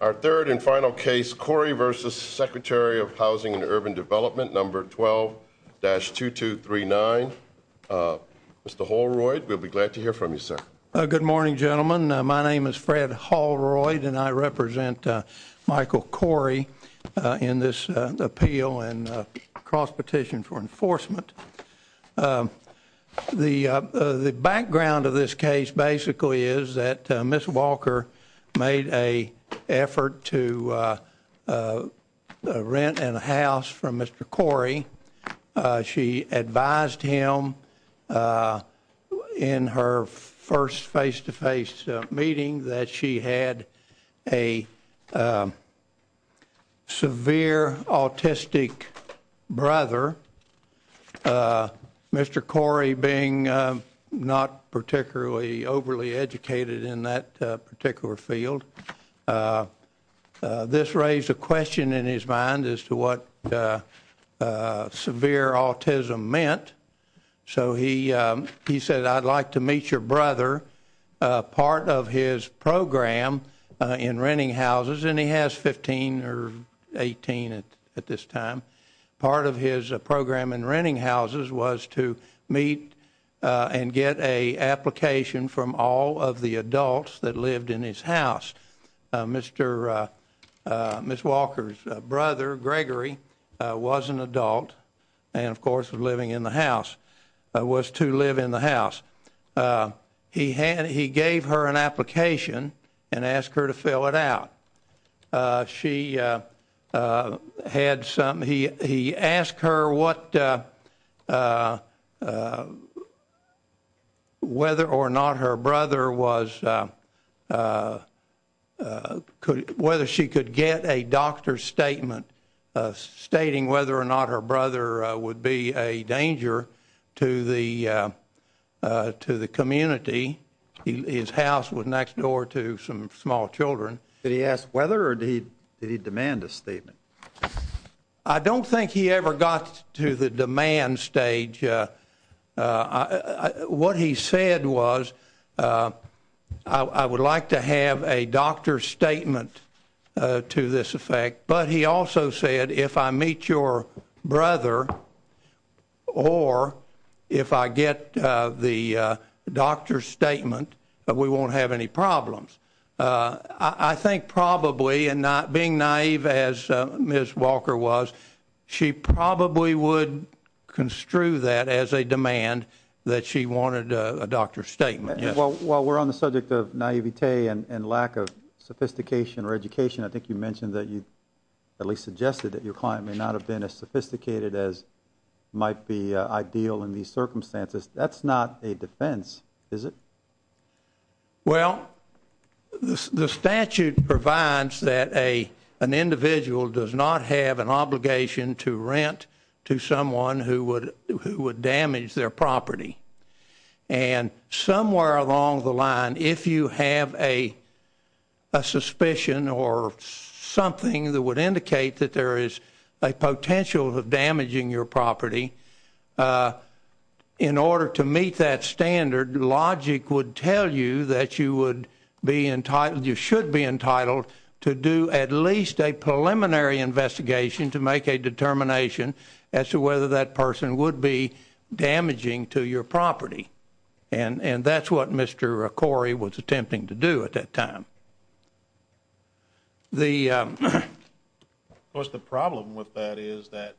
Our third and final case, Corey versus Secretary of Housing and Urban Development, number 12-2239, Mr. Holroyd. We'll be glad to hear from you, sir. Good morning, gentlemen. My name is Fred Holroyd, and I represent Michael Corey in this appeal and cross-petition for enforcement. The background of this case basically is that Ms. Walker made an effort to rent a house from Mr. Corey. She advised him in her first face-to-face meeting that she had a severe autistic brother, Mr. Corey being not particularly overly educated in that particular field. This raised a question in his mind as to what severe autism meant, so he said, I'd like to meet your brother. Part of his program in renting houses, and he has 15 or 18 at this time, part of his program in renting houses was to meet and get an application from all of the adults that lived in his house. Ms. Walker's brother, Gregory, was an adult and, of course, was to live in the house. He gave her an application and asked her to fill it out. He asked her whether or not her brother was, whether she could get a doctor's statement stating whether or not her brother would be a danger to the community. His house was next door to some small children. Did he ask whether or did he demand a statement? I don't think he ever got to the demand stage. What he said was, I would like to have a doctor's statement to this effect, but he also said, if I meet your brother or if I get the doctor's statement, we won't have any problems. I think probably, and not being naive as Ms. Walker was, she probably would construe that as a demand that she wanted a doctor's statement. While we're on the subject of naivete and lack of sophistication or education, I think you mentioned that you at least suggested that your client may not have been as sophisticated as might be ideal in these circumstances. That's not a defense, is it? Well, the statute provides that an individual does not have an obligation to rent to someone who would damage their property. And somewhere along the line, if you have a suspicion or something that would indicate that there is a potential of damaging your property, in order to meet that standard, logic would tell you that you should be entitled to do at least a preliminary investigation to make a determination as to whether that person would be damaging to your property. And that's what Mr. Corey was attempting to do at that time. Of course, the problem with that is that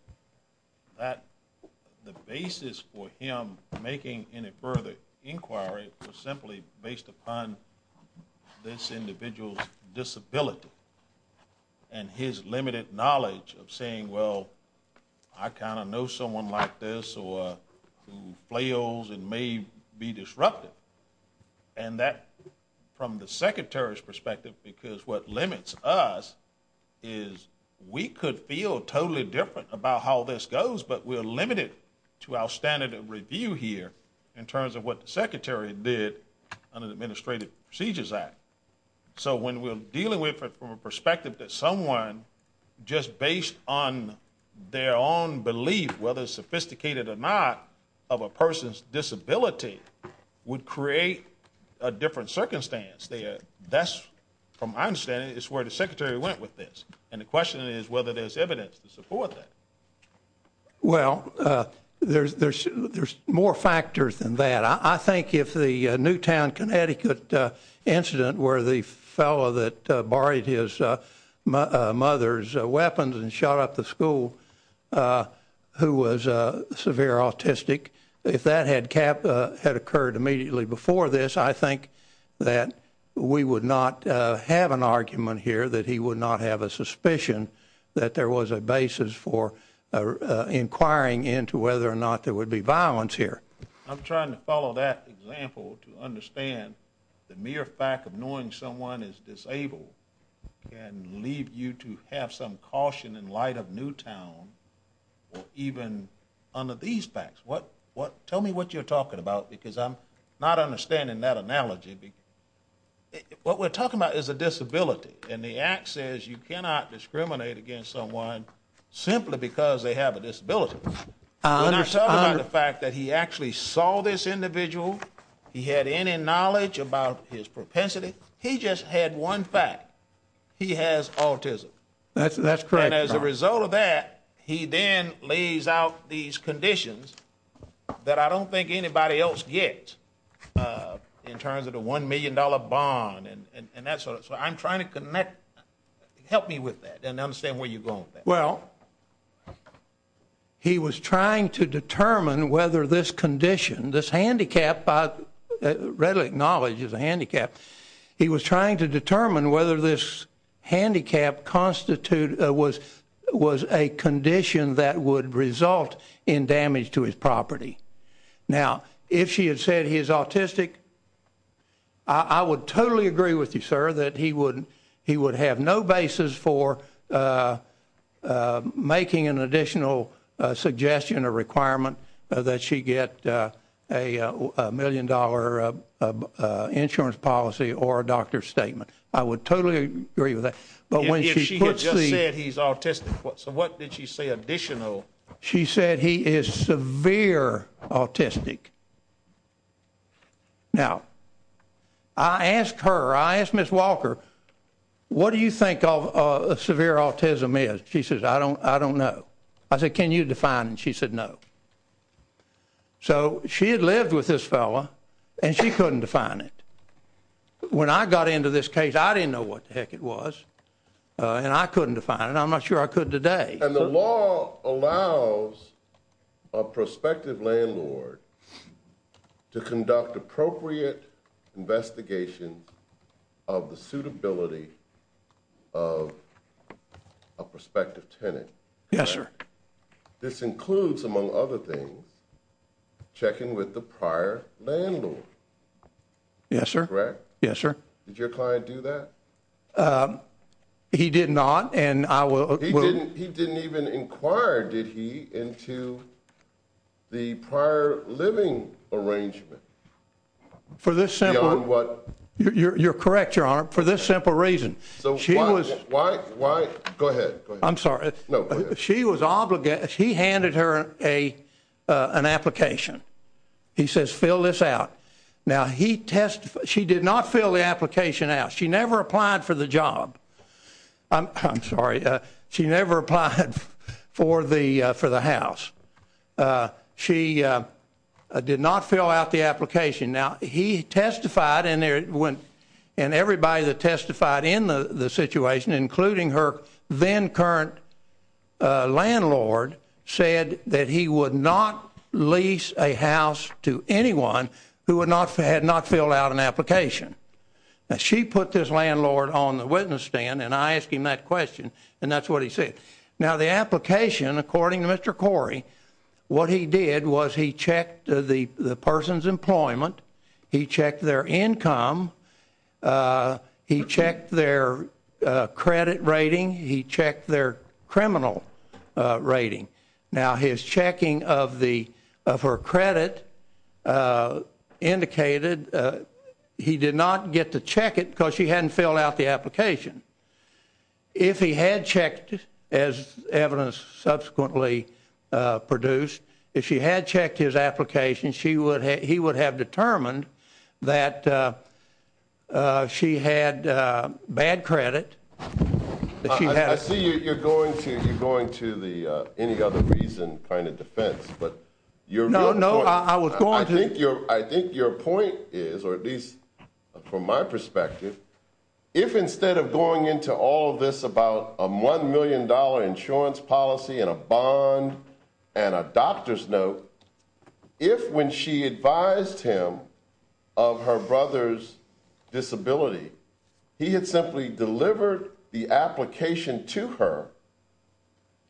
the basis for him making any further inquiry was simply based upon this individual's disability and his limited knowledge of saying, well, I kind of know someone like this or who flails and may be disruptive. And that, from the Secretary's perspective, because what limits us is we could feel totally different about how this goes, but we're limited to our standard of review here in terms of what the Secretary did under the Administrative Procedures Act. So when we're dealing with it from a perspective that someone just based on their own belief, whether sophisticated or not, of a person's disability would create a different circumstance, that's, from my understanding, is where the Secretary went with this. And the question is whether there's evidence to support that. Well, there's more factors than that. I think if the Newtown, Connecticut incident where the fellow that borrowed his mother's weapons and shot up the school who was severe autistic, if that had occurred immediately before this, I think that we would not have an argument here that he would not have a suspicion that there was a basis for inquiring into whether or not there would be violence here. I'm trying to follow that example to understand the mere fact of knowing someone is disabled can lead you to have some caution in light of Newtown or even under these facts. Tell me what you're talking about, because I'm not understanding that analogy. What we're talking about is a disability, and the Act says you cannot discriminate against someone simply because they have a disability. When I talk about the fact that he actually saw this individual, he had any knowledge about his propensity, he just had one fact. He has autism. That's correct. And as a result of that, he then lays out these conditions that I don't think anybody else gets in terms of the $1 million bond. So I'm trying to connect. Help me with that and understand where you're going with that. Well, he was trying to determine whether this condition, this handicap I readily acknowledge is a handicap. He was trying to determine whether this handicap was a condition that would result in damage to his property. Now, if she had said he's autistic, I would totally agree with you, sir, that he would have no basis for making an additional suggestion or requirement that she get a $1 million insurance policy or a doctor's statement. I would totally agree with that. If she had just said he's autistic, so what did she say additional? She said he is severe autistic. Now, I asked her, I asked Ms. Walker, what do you think severe autism is? She says, I don't know. I said, can you define it? She said no. So she had lived with this fellow, and she couldn't define it. When I got into this case, I didn't know what the heck it was, and I couldn't define it. I'm not sure I could today. And the law allows a prospective landlord to conduct appropriate investigations of the suitability of a prospective tenant. Yes, sir. This includes, among other things, checking with the prior landlord. Yes, sir. Correct? Yes, sir. Did your client do that? He did not, and I will. He didn't even inquire, did he, into the prior living arrangement? For this simple. Beyond what? You're correct, Your Honor, for this simple reason. So why, go ahead. I'm sorry. No, go ahead. She was obligated, he handed her an application. He says, fill this out. Now, she did not fill the application out. She never applied for the job. I'm sorry. She never applied for the house. She did not fill out the application. Now, he testified, and everybody that testified in the situation, including her then current landlord, said that he would not lease a house to anyone who had not filled out an application. Now, she put this landlord on the witness stand, and I asked him that question, and that's what he said. Now, the application, according to Mr. Corey, what he did was he checked the person's employment, he checked their income, he checked their credit rating, he checked their criminal rating. Now, his checking of her credit indicated he did not get to check it because she hadn't filled out the application. If he had checked, as evidence subsequently produced, if she had checked his application, he would have determined that she had bad credit. I see you're going to the any other reason kind of defense. No, no, I was going to. I think your point is, or at least from my perspective, if instead of going into all of this about a $1 million insurance policy and a bond and a doctor's note, if when she advised him of her brother's disability, he had simply delivered the application to her,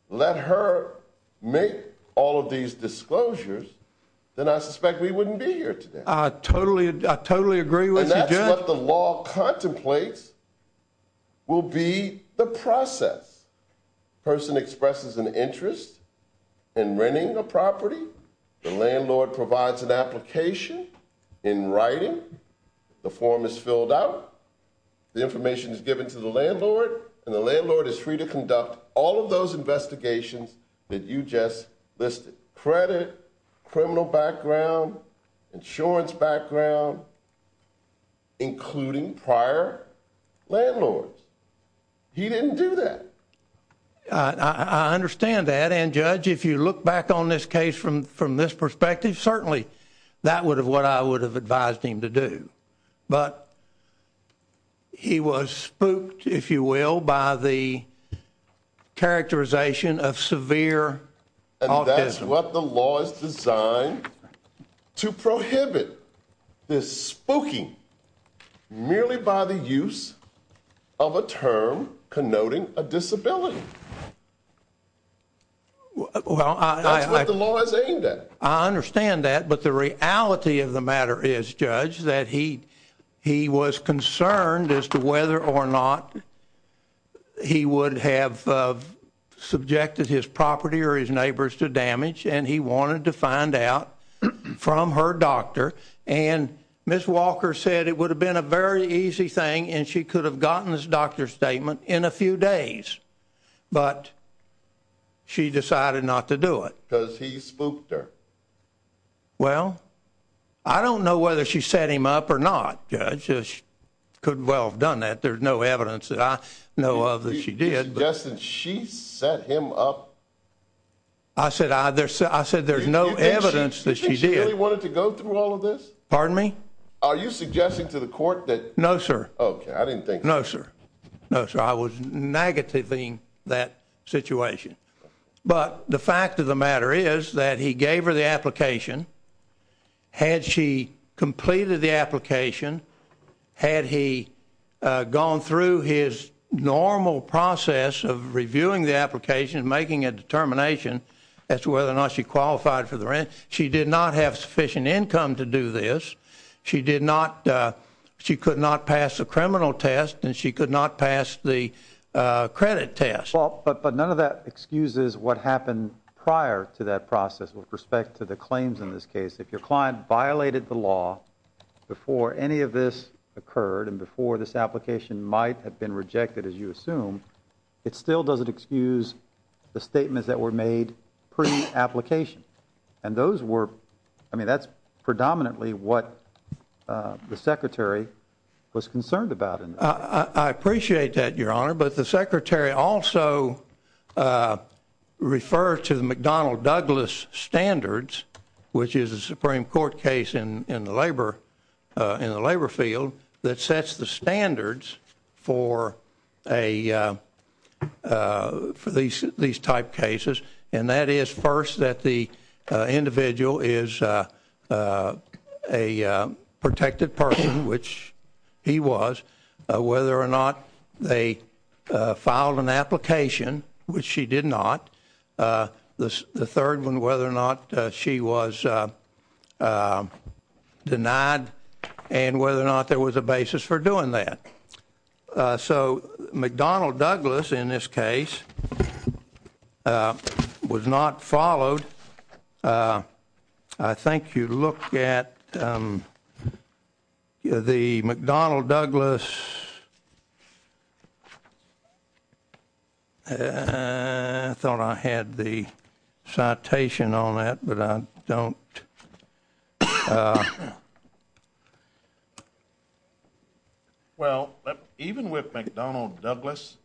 let her make all of these disclosures, then I suspect we wouldn't be here today. I totally agree with you, Jeff. And that's what the law contemplates will be the process. A person expresses an interest in renting a property, the landlord provides an application in writing, the form is filled out, the information is given to the landlord, and the landlord is free to conduct all of those investigations that you just listed. Credit, criminal background, insurance background, including prior landlords. He didn't do that. I understand that. And, Judge, if you look back on this case from this perspective, certainly that would have what I would have advised him to do. But he was spooked, if you will, by the characterization of severe autism. That's what the law is designed to prohibit, this spooking, merely by the use of a term connoting a disability. That's what the law is aimed at. I understand that, but the reality of the matter is, Judge, that he was concerned as to whether or not he would have subjected his property or his neighbors to damage, and he wanted to find out from her doctor. And Ms. Walker said it would have been a very easy thing, and she could have gotten this doctor's statement in a few days. But she decided not to do it. Because he spooked her. Well, I don't know whether she set him up or not, Judge. She could well have done that. There's no evidence that I know of that she did. You suggested she set him up? I said there's no evidence that she did. Do you think she really wanted to go through all of this? Pardon me? Are you suggesting to the court that? No, sir. Okay, I didn't think so. No, sir. No, sir. I was negativing that situation. But the fact of the matter is that he gave her the application. Had she completed the application, had he gone through his normal process of reviewing the application and making a determination as to whether or not she qualified for the rent, she did not have sufficient income to do this. She could not pass the criminal test, and she could not pass the credit test. But none of that excuses what happened prior to that process with respect to the claims in this case. If your client violated the law before any of this occurred and before this application might have been rejected, as you assume, it still doesn't excuse the statements that were made pre-application. And those were, I mean, that's predominantly what the Secretary was concerned about. I appreciate that, Your Honor. But the Secretary also referred to the McDonnell-Douglas standards, which is a Supreme Court case in the labor field that sets the standards for these type cases. And that is, first, that the individual is a protected person, which he was, whether or not they filed an application, which she did not. The third one, whether or not she was denied and whether or not there was a basis for doing that. So McDonnell-Douglas, in this case, was not followed. I think you look at the McDonnell-Douglas. I thought I had the citation on that, but I don't. Well, even with McDonnell-Douglas,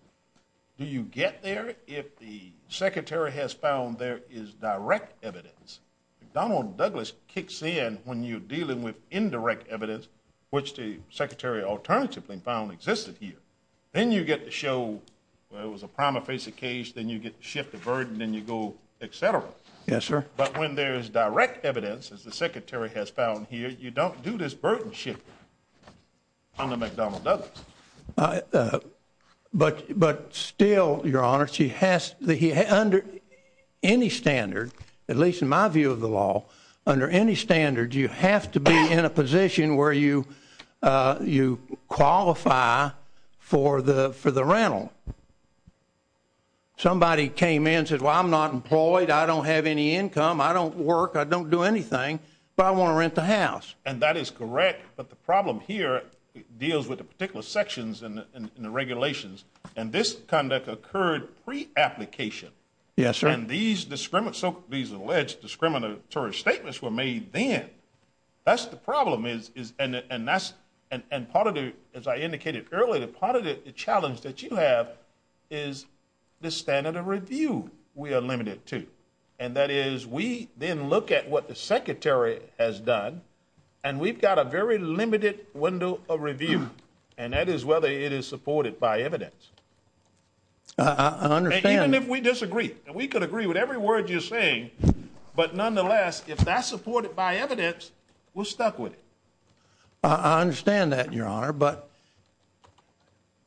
do you get there if the Secretary has found there is direct evidence? McDonnell-Douglas kicks in when you're dealing with indirect evidence, which the Secretary alternatively found existed here. Then you get to show, well, it was a prima facie case. Then you get to shift the burden and you go, et cetera. Yes, sir. But when there is direct evidence, as the Secretary has found here, you don't do this burdenship on the McDonnell-Douglas. But still, Your Honor, under any standard, at least in my view of the law, under any standard you have to be in a position where you qualify for the rental. Somebody came in and said, well, I'm not employed. I don't have any income. I don't work. I don't do anything. But I want to rent the house. And that is correct. But the problem here deals with the particular sections in the regulations. And this conduct occurred pre-application. Yes, sir. And these alleged discriminatory statements were made then. That's the problem. And part of it, as I indicated earlier, part of the challenge that you have is the standard of review we are limited to. And that is we then look at what the Secretary has done, and we've got a very limited window of review, and that is whether it is supported by evidence. I understand. We could agree with every word you're saying. But nonetheless, if that's supported by evidence, we're stuck with it. I understand that, Your Honor. But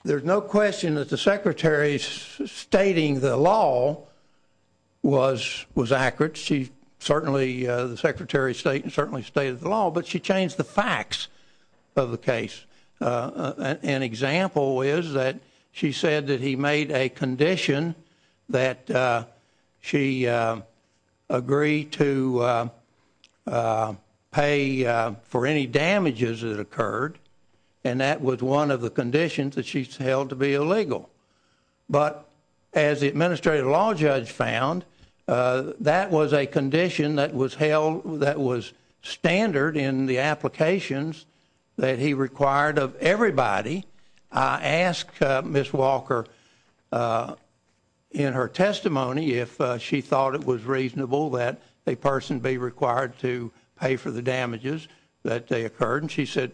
there's no question that the Secretary's stating the law was accurate. She certainly, the Secretary certainly stated the law. But she changed the facts of the case. An example is that she said that he made a condition that she agree to pay for any damages that occurred, and that was one of the conditions that she's held to be illegal. But as the Administrative Law Judge found, that was a condition that was standard in the applications that he required of everybody. I asked Ms. Walker, in her testimony, if she thought it was reasonable that a person be required to pay for the damages that occurred, and she said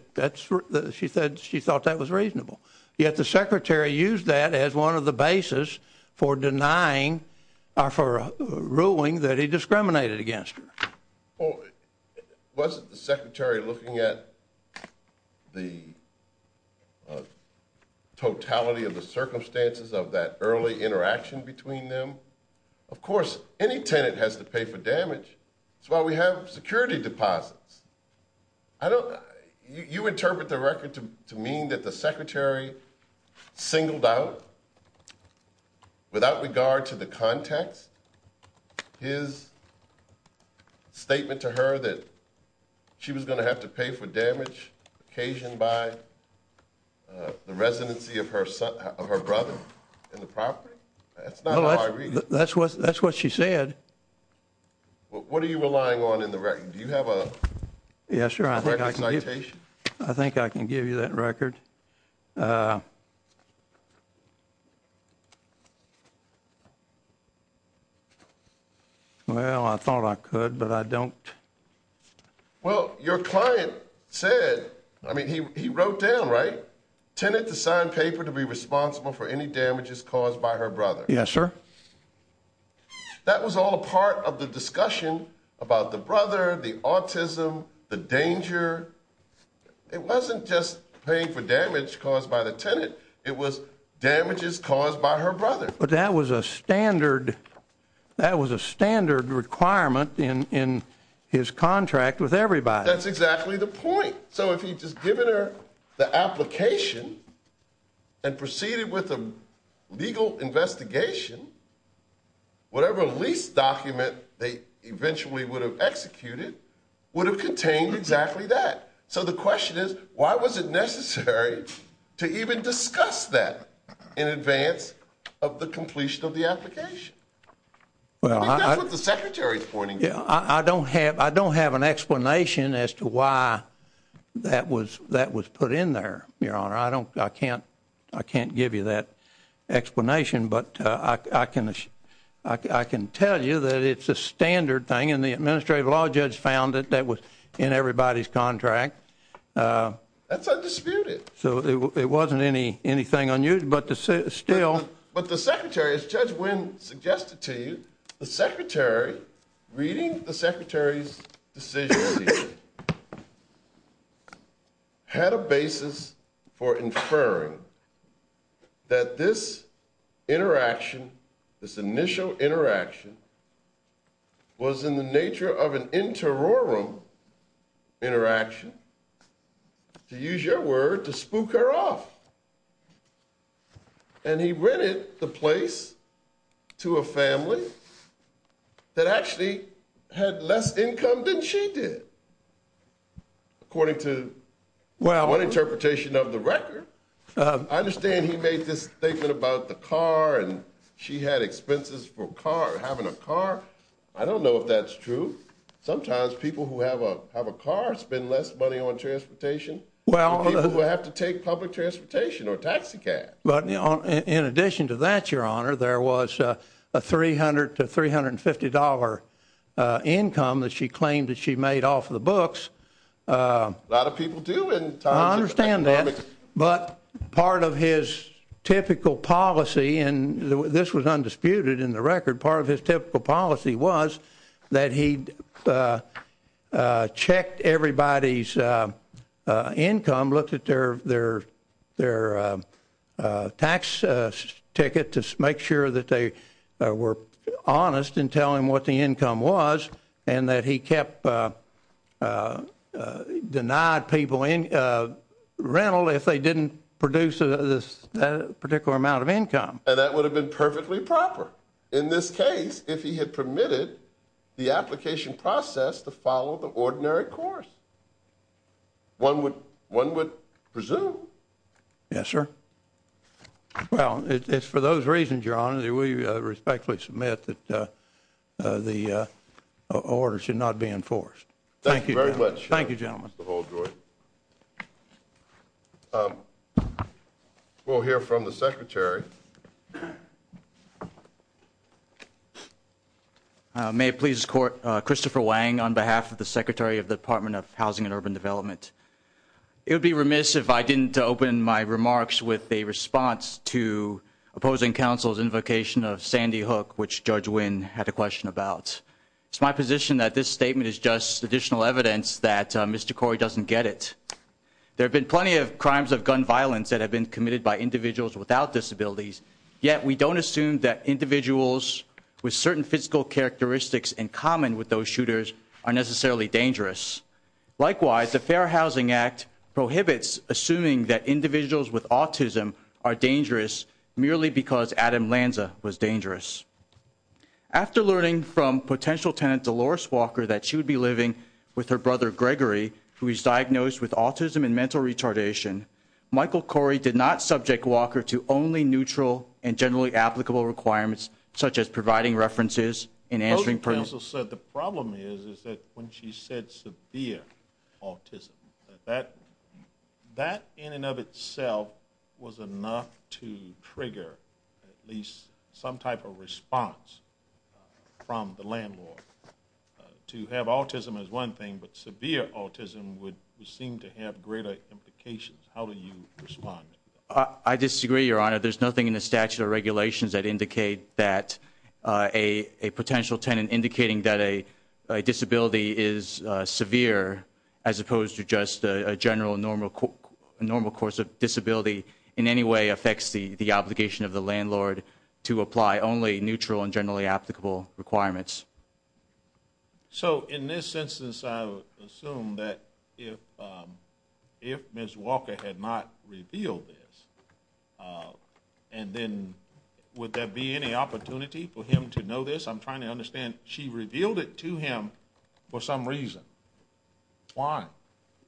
she thought that was reasonable. Yet the Secretary used that as one of the basis for denying or for ruling that he discriminated against her. Well, wasn't the Secretary looking at the totality of the circumstances of that early interaction between them? Of course, any tenant has to pay for damage. That's why we have security deposits. You interpret the record to mean that the Secretary singled out, without regard to the context, his statement to her that she was going to have to pay for damage occasioned by the residency of her brother in the property? That's not how I read it. That's what she said. What are you relying on in the record? Do you have a record citation? I think I can give you that record. Well, I thought I could, but I don't. Well, your client said, I mean, he wrote down, right, tenant to sign paper to be responsible for any damages caused by her brother. Yes, sir. That was all a part of the discussion about the brother, the autism, the danger. It wasn't just paying for damage caused by the tenant. It was damages caused by her brother. But that was a standard. That was a standard requirement in his contract with everybody. That's exactly the point. So if he had just given her the application and proceeded with a legal investigation, whatever lease document they eventually would have executed would have contained exactly that. So the question is, why was it necessary to even discuss that in advance of the completion of the application? I think that's what the Secretary is pointing to. I don't have an explanation as to why that was put in there, Your Honor. I can't give you that explanation, but I can tell you that it's a standard thing, and the Administrative Law Judge found it. That was in everybody's contract. That's undisputed. So it wasn't anything unusual, but still. But the Secretary, as Judge Wynn suggested to you, the Secretary, reading the Secretary's decision here, had a basis for inferring that this interaction, this initial interaction, was in the nature of an interrogarum interaction, to use your word, to spook her off. And he rented the place to a family that actually had less income than she did, according to one interpretation of the record. I understand he made this statement about the car and she had expenses for having a car. I don't know if that's true. Sometimes people who have a car spend less money on transportation than people who have to take public transportation. Or taxicabs. In addition to that, Your Honor, there was a $300 to $350 income that she claimed that she made off of the books. A lot of people do in terms of economics. I understand that. But part of his typical policy, and this was undisputed in the record, part of his typical policy was that he checked everybody's income, looked at their tax ticket to make sure that they were honest in telling him what the income was, and that he kept denying people rental if they didn't produce a particular amount of income. And that would have been perfectly proper in this case if he had permitted the application process to follow the ordinary course. One would presume. Yes, sir. Well, it's for those reasons, Your Honor, that we respectfully submit that the order should not be enforced. Thank you very much. Thank you, gentlemen. Mr. Holdroyd. We'll hear from the Secretary. May it please the Court, Christopher Wang on behalf of the Secretary of the Department of Housing and Urban Development. It would be remiss if I didn't open my remarks with a response to opposing counsel's invocation of Sandy Hook, which Judge Wynn had a question about. It's my position that this statement is just additional evidence that Mr. Corey doesn't get it. There have been plenty of crimes of gun violence that have been committed by individuals without disabilities, yet we don't assume that individuals with certain physical characteristics in common with those shooters are necessarily dangerous. Likewise, the Fair Housing Act prohibits assuming that individuals with autism are dangerous merely because Adam Lanza was dangerous. After learning from potential tenant Dolores Walker that she would be living with her brother Gregory, who is diagnosed with autism and mental retardation, Michael Corey did not subject Walker to only neutral and generally applicable requirements, such as providing references and answering permits. Opposing counsel said the problem is that when she said severe autism, that in and of itself was enough to trigger at least some type of response from the landlord. To have autism as one thing but severe autism would seem to have greater implications. How do you respond? I disagree, Your Honor. There's nothing in the statute of regulations that indicate that a potential tenant indicating that a disability is severe as opposed to just a general normal course of disability in any way affects the obligation of the landlord to apply only neutral and generally applicable requirements. So in this instance, I would assume that if Ms. Walker had not revealed this, and then would there be any opportunity for him to know this? I'm trying to understand. She revealed it to him for some reason. Why?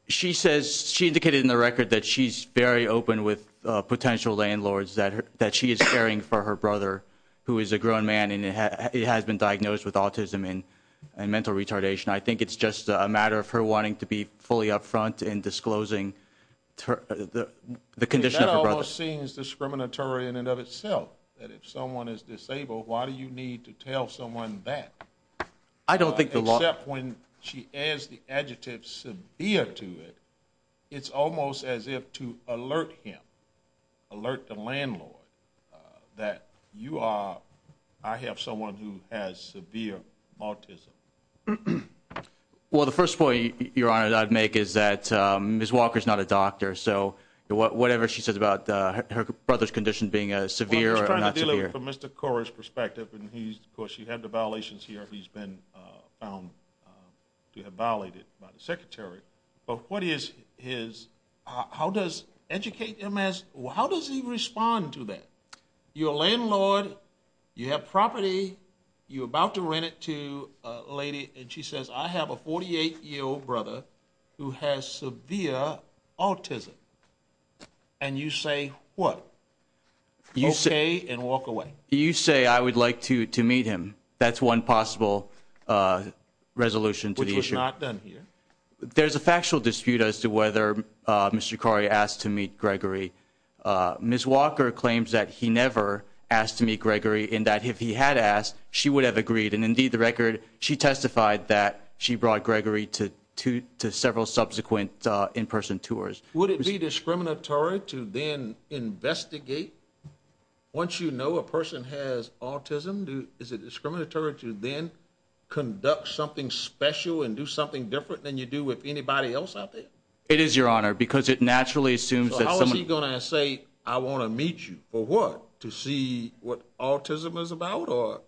She says she indicated in the record that she's very open with potential landlords, that she is caring for her brother, who is a grown man and has been diagnosed with autism and mental retardation. I think it's just a matter of her wanting to be fully upfront in disclosing the condition of her brother. That almost seems discriminatory in and of itself. That if someone is disabled, why do you need to tell someone that? Except when she adds the adjective severe to it, it's almost as if to alert him, alert the landlord, that I have someone who has severe autism. Well, the first point, Your Honor, that I'd make is that Ms. Walker is not a doctor, so whatever she says about her brother's condition being severe or not severe. I'm just trying to deal with it from Mr. Cora's perspective. Of course, you have the violations here. He's been found to have violated by the Secretary. But what is his – how does Educate MS – how does he respond to that? You're a landlord. You have property. You're about to rent it to a lady, and she says, I have a 48-year-old brother who has severe autism. And you say what? Okay and walk away. You say I would like to meet him. That's one possible resolution to the issue. Which was not done here. There's a factual dispute as to whether Mr. Cori asked to meet Gregory. Ms. Walker claims that he never asked to meet Gregory, and that if he had asked, she would have agreed. And, indeed, the record, she testified that she brought Gregory to several subsequent in-person tours. Would it be discriminatory to then investigate once you know a person has autism? Is it discriminatory to then conduct something special and do something different than you do with anybody else out there? It is, Your Honor, because it naturally assumes that someone – If he's going to say, I want to meet you, for what? To see what autism is about or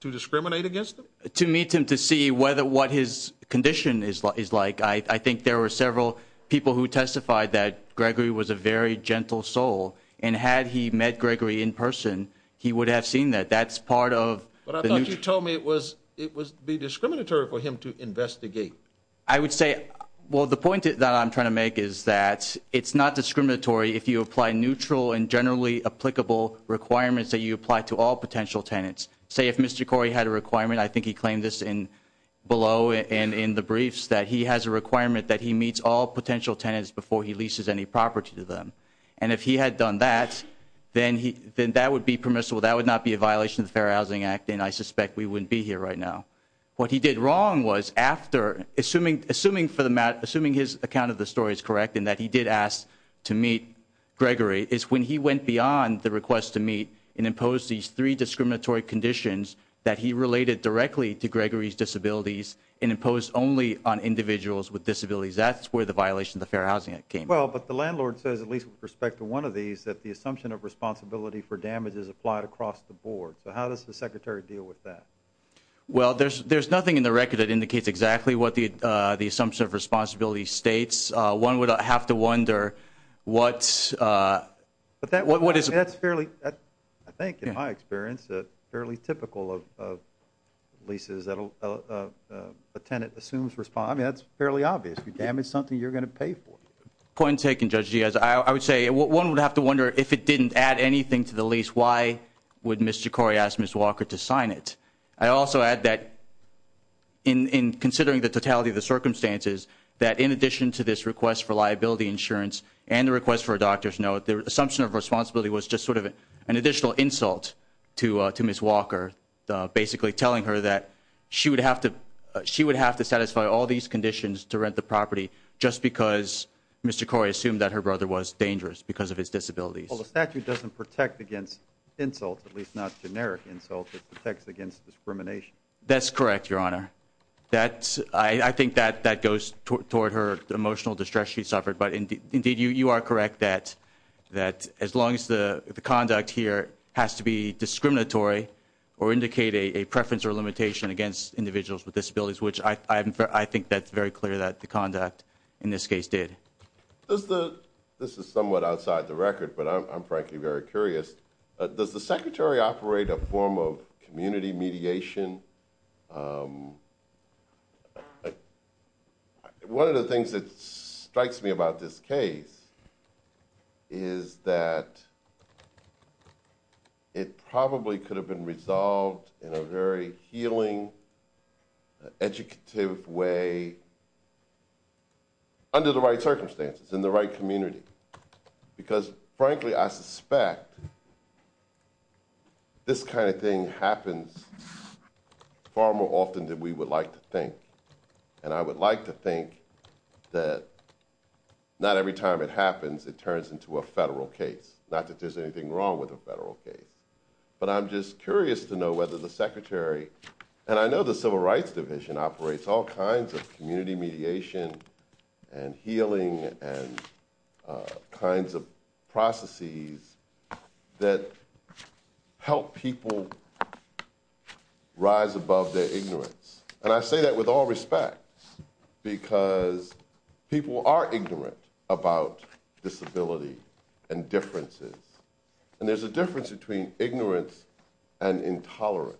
to discriminate against him? To meet him to see what his condition is like. I think there were several people who testified that Gregory was a very gentle soul, and had he met Gregory in person, he would have seen that. That's part of – But I thought you told me it would be discriminatory for him to investigate. I would say, well, the point that I'm trying to make is that it's not discriminatory if you apply neutral and generally applicable requirements that you apply to all potential tenants. Say, if Mr. Corey had a requirement, I think he claimed this below and in the briefs, that he has a requirement that he meets all potential tenants before he leases any property to them. And if he had done that, then that would be permissible. That would not be a violation of the Fair Housing Act, and I suspect we wouldn't be here right now. What he did wrong was, after – Assuming his account of the story is correct and that he did ask to meet Gregory, is when he went beyond the request to meet and imposed these three discriminatory conditions that he related directly to Gregory's disabilities and imposed only on individuals with disabilities. That's where the violation of the Fair Housing Act came from. Well, but the landlord says, at least with respect to one of these, that the assumption of responsibility for damage is applied across the board. So how does the Secretary deal with that? Well, there's nothing in the record that indicates exactly what the assumption of responsibility states. One would have to wonder what's – But that – What is – That's fairly – I think, in my experience, fairly typical of leases that a tenant assumes – I mean, that's fairly obvious. You damage something, you're going to pay for it. Point taken, Judge Diaz. I would say one would have to wonder, if it didn't add anything to the lease, why would Ms. Jokori ask Ms. Walker to sign it? I also add that, in considering the totality of the circumstances, that in addition to this request for liability insurance and the request for a doctor's note, the assumption of responsibility was just sort of an additional insult to Ms. Walker, basically telling her that she would have to satisfy all these conditions to rent the property just because Ms. Jokori assumed that her brother was dangerous because of his disabilities. Well, the statute doesn't protect against insults, at least not generic insults. It protects against discrimination. That's correct, Your Honor. I think that goes toward her emotional distress she suffered. But, indeed, you are correct that as long as the conduct here has to be discriminatory or indicate a preference or limitation against individuals with disabilities, which I think that's very clear that the conduct in this case did. This is somewhat outside the record, but I'm frankly very curious. Does the Secretary operate a form of community mediation? One of the things that strikes me about this case is that it probably could have been resolved in a very healing, educative way under the right circumstances in the right community. Because, frankly, I suspect this kind of thing happens far more often than we would like to think. And I would like to think that not every time it happens it turns into a federal case, not that there's anything wrong with a federal case. But I'm just curious to know whether the Secretary, and I know the Civil Rights Division operates all kinds of community mediation and healing and kinds of processes that help people rise above their ignorance. And I say that with all respect, because people are ignorant about disability and differences. And there's a difference between ignorance and intolerance.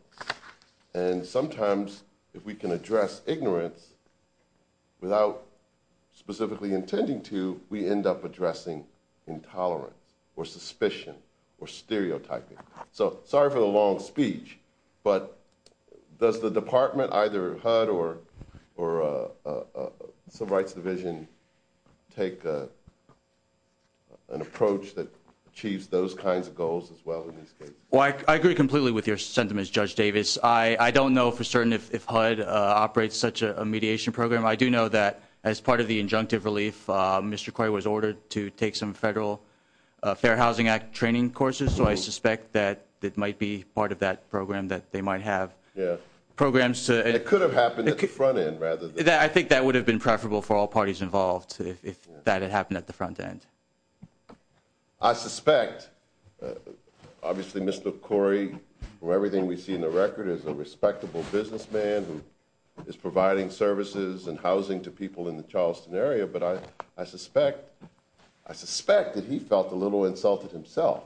And sometimes if we can address ignorance without specifically intending to, we end up addressing intolerance or suspicion or stereotyping. So, sorry for the long speech, but does the Department, either HUD or Civil Rights Division, take an approach that achieves those kinds of goals as well in these cases? Well, I agree completely with your sentiments, Judge Davis. I don't know for certain if HUD operates such a mediation program. I do know that as part of the injunctive relief, Mr. Coy was ordered to take some federal Fair Housing Act training courses. So I suspect that it might be part of that program that they might have. Yeah. Programs to – It could have happened at the front end rather than – I think that would have been preferable for all parties involved if that had happened at the front end. I suspect – obviously, Mr. Coy, from everything we see in the record, is a respectable businessman who is providing services and housing to people in the Charleston area, but I suspect that he felt a little insulted himself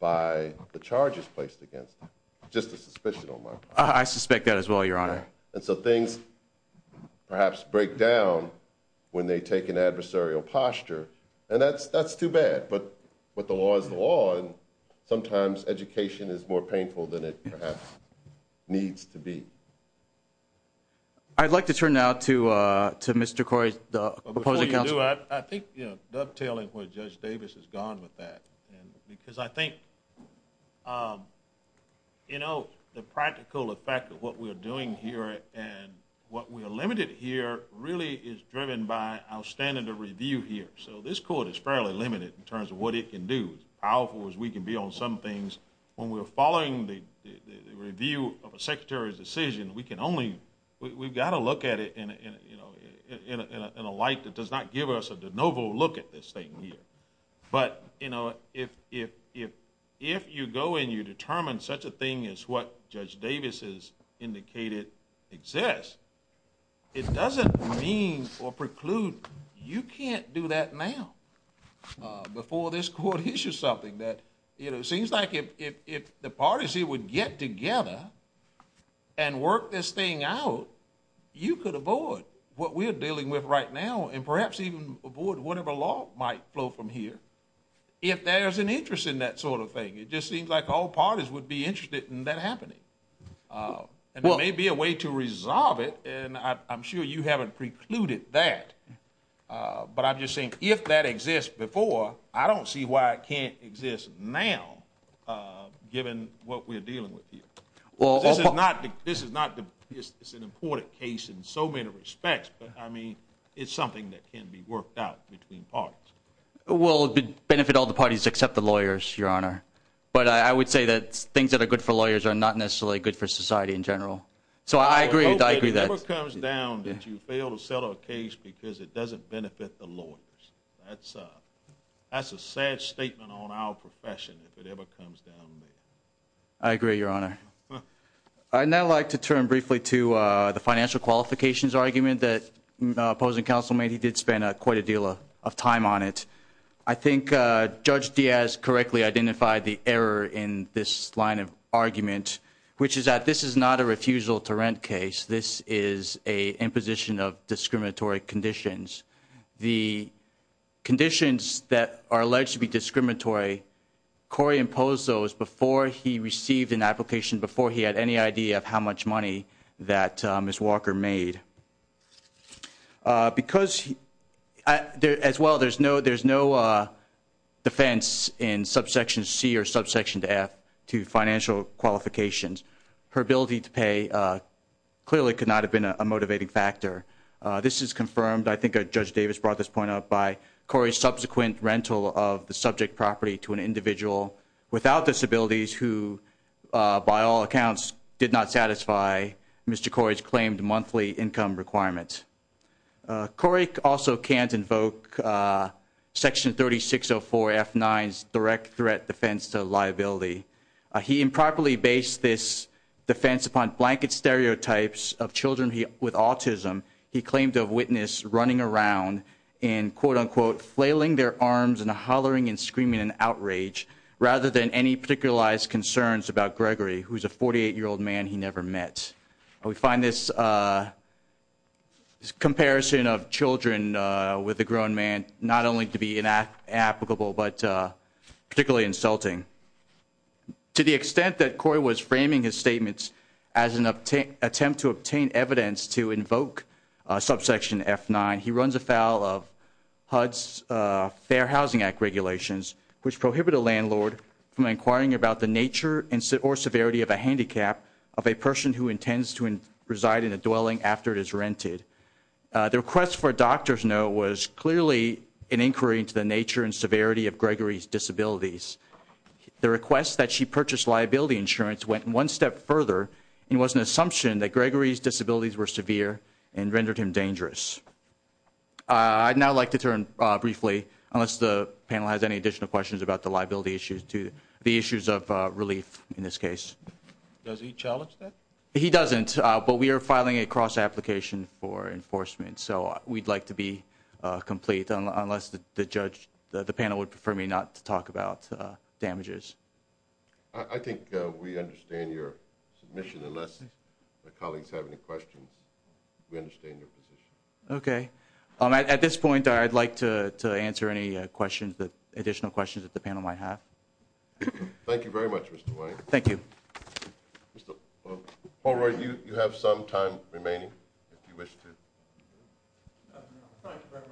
by the charges placed against him. Just a suspicion on my part. I suspect that as well, Your Honor. And so things perhaps break down when they take an adversarial posture, and that's too bad, but the law is the law, and sometimes education is more painful than it perhaps needs to be. I'd like to turn now to Mr. Coy, the opposing counsel. Before you do, I think dovetailing with Judge Davis is gone with that, because I think, you know, the practical effect of what we're doing here and what we're limited here really is driven by our standard of review here. So this court is fairly limited in terms of what it can do. As powerful as we can be on some things, when we're following the review of a secretary's decision, we can only – we've got to look at it in a light that does not give us a de novo look at this thing here. But, you know, if you go and you determine such a thing as what Judge Davis has indicated exists, it doesn't mean or preclude you can't do that now before this court issues something that, you know, it seems like if the parties here would get together and work this thing out, you could avoid what we're dealing with right now and perhaps even avoid whatever law might flow from here if there's an interest in that sort of thing. It just seems like all parties would be interested in that happening. And there may be a way to resolve it, and I'm sure you haven't precluded that. But I'm just saying if that exists before, I don't see why it can't exist now, given what we're dealing with here. This is not – it's an important case in so many respects, but, I mean, it's something that can be worked out between parties. Well, it would benefit all the parties except the lawyers, Your Honor. But I would say that things that are good for lawyers are not necessarily good for society in general. So I agree with that. It never comes down that you fail to settle a case because it doesn't benefit the lawyers. That's a sad statement on our profession if it ever comes down there. I agree, Your Honor. I'd now like to turn briefly to the financial qualifications argument that opposing counsel made. He did spend quite a deal of time on it. I think Judge Diaz correctly identified the error in this line of argument, which is that this is not a refusal to rent case. This is an imposition of discriminatory conditions. The conditions that are alleged to be discriminatory, Corey imposed those before he received an application, before he had any idea of how much money that Ms. Walker made. Because – as well, there's no defense in subsection C or subsection F to financial qualifications. Her ability to pay clearly could not have been a motivating factor. This is confirmed, I think Judge Davis brought this point up, by Corey's subsequent rental of the subject property to an individual without disabilities who, by all accounts, did not satisfy Mr. Corey's claimed monthly income requirements. Corey also can't invoke section 3604F9's direct threat defense to liability. He improperly based this defense upon blanket stereotypes of children with autism he claimed to have witnessed running around and, quote-unquote, flailing their arms and hollering and screaming in outrage, rather than any particularized concerns about Gregory, who's a 48-year-old man he never met. We find this comparison of children with a grown man not only to be inapplicable, but particularly insulting. To the extent that Corey was framing his statements as an attempt to obtain evidence to invoke subsection F9, he runs afoul of HUD's Fair Housing Act regulations, which prohibit a landlord from inquiring about the nature or severity of a handicap of a person who intends to reside in a dwelling after it is rented. The request for a doctor's note was clearly an inquiry into the nature and severity of Gregory's disabilities. The request that she purchase liability insurance went one step further and was an assumption that Gregory's disabilities were severe and rendered him dangerous. I'd now like to turn briefly, unless the panel has any additional questions about the liability issues, to the issues of relief in this case. Does he challenge that? He doesn't, but we are filing a cross-application for enforcement, so we'd like to be complete unless the panel would prefer me not to talk about damages. I think we understand your submission. Unless my colleagues have any questions, we understand your position. Okay. At this point, I'd like to answer any additional questions that the panel might have. Thank you very much, Mr. White. Thank you. Mr. Polroy, you have some time remaining, if you wish to. Thank you very much.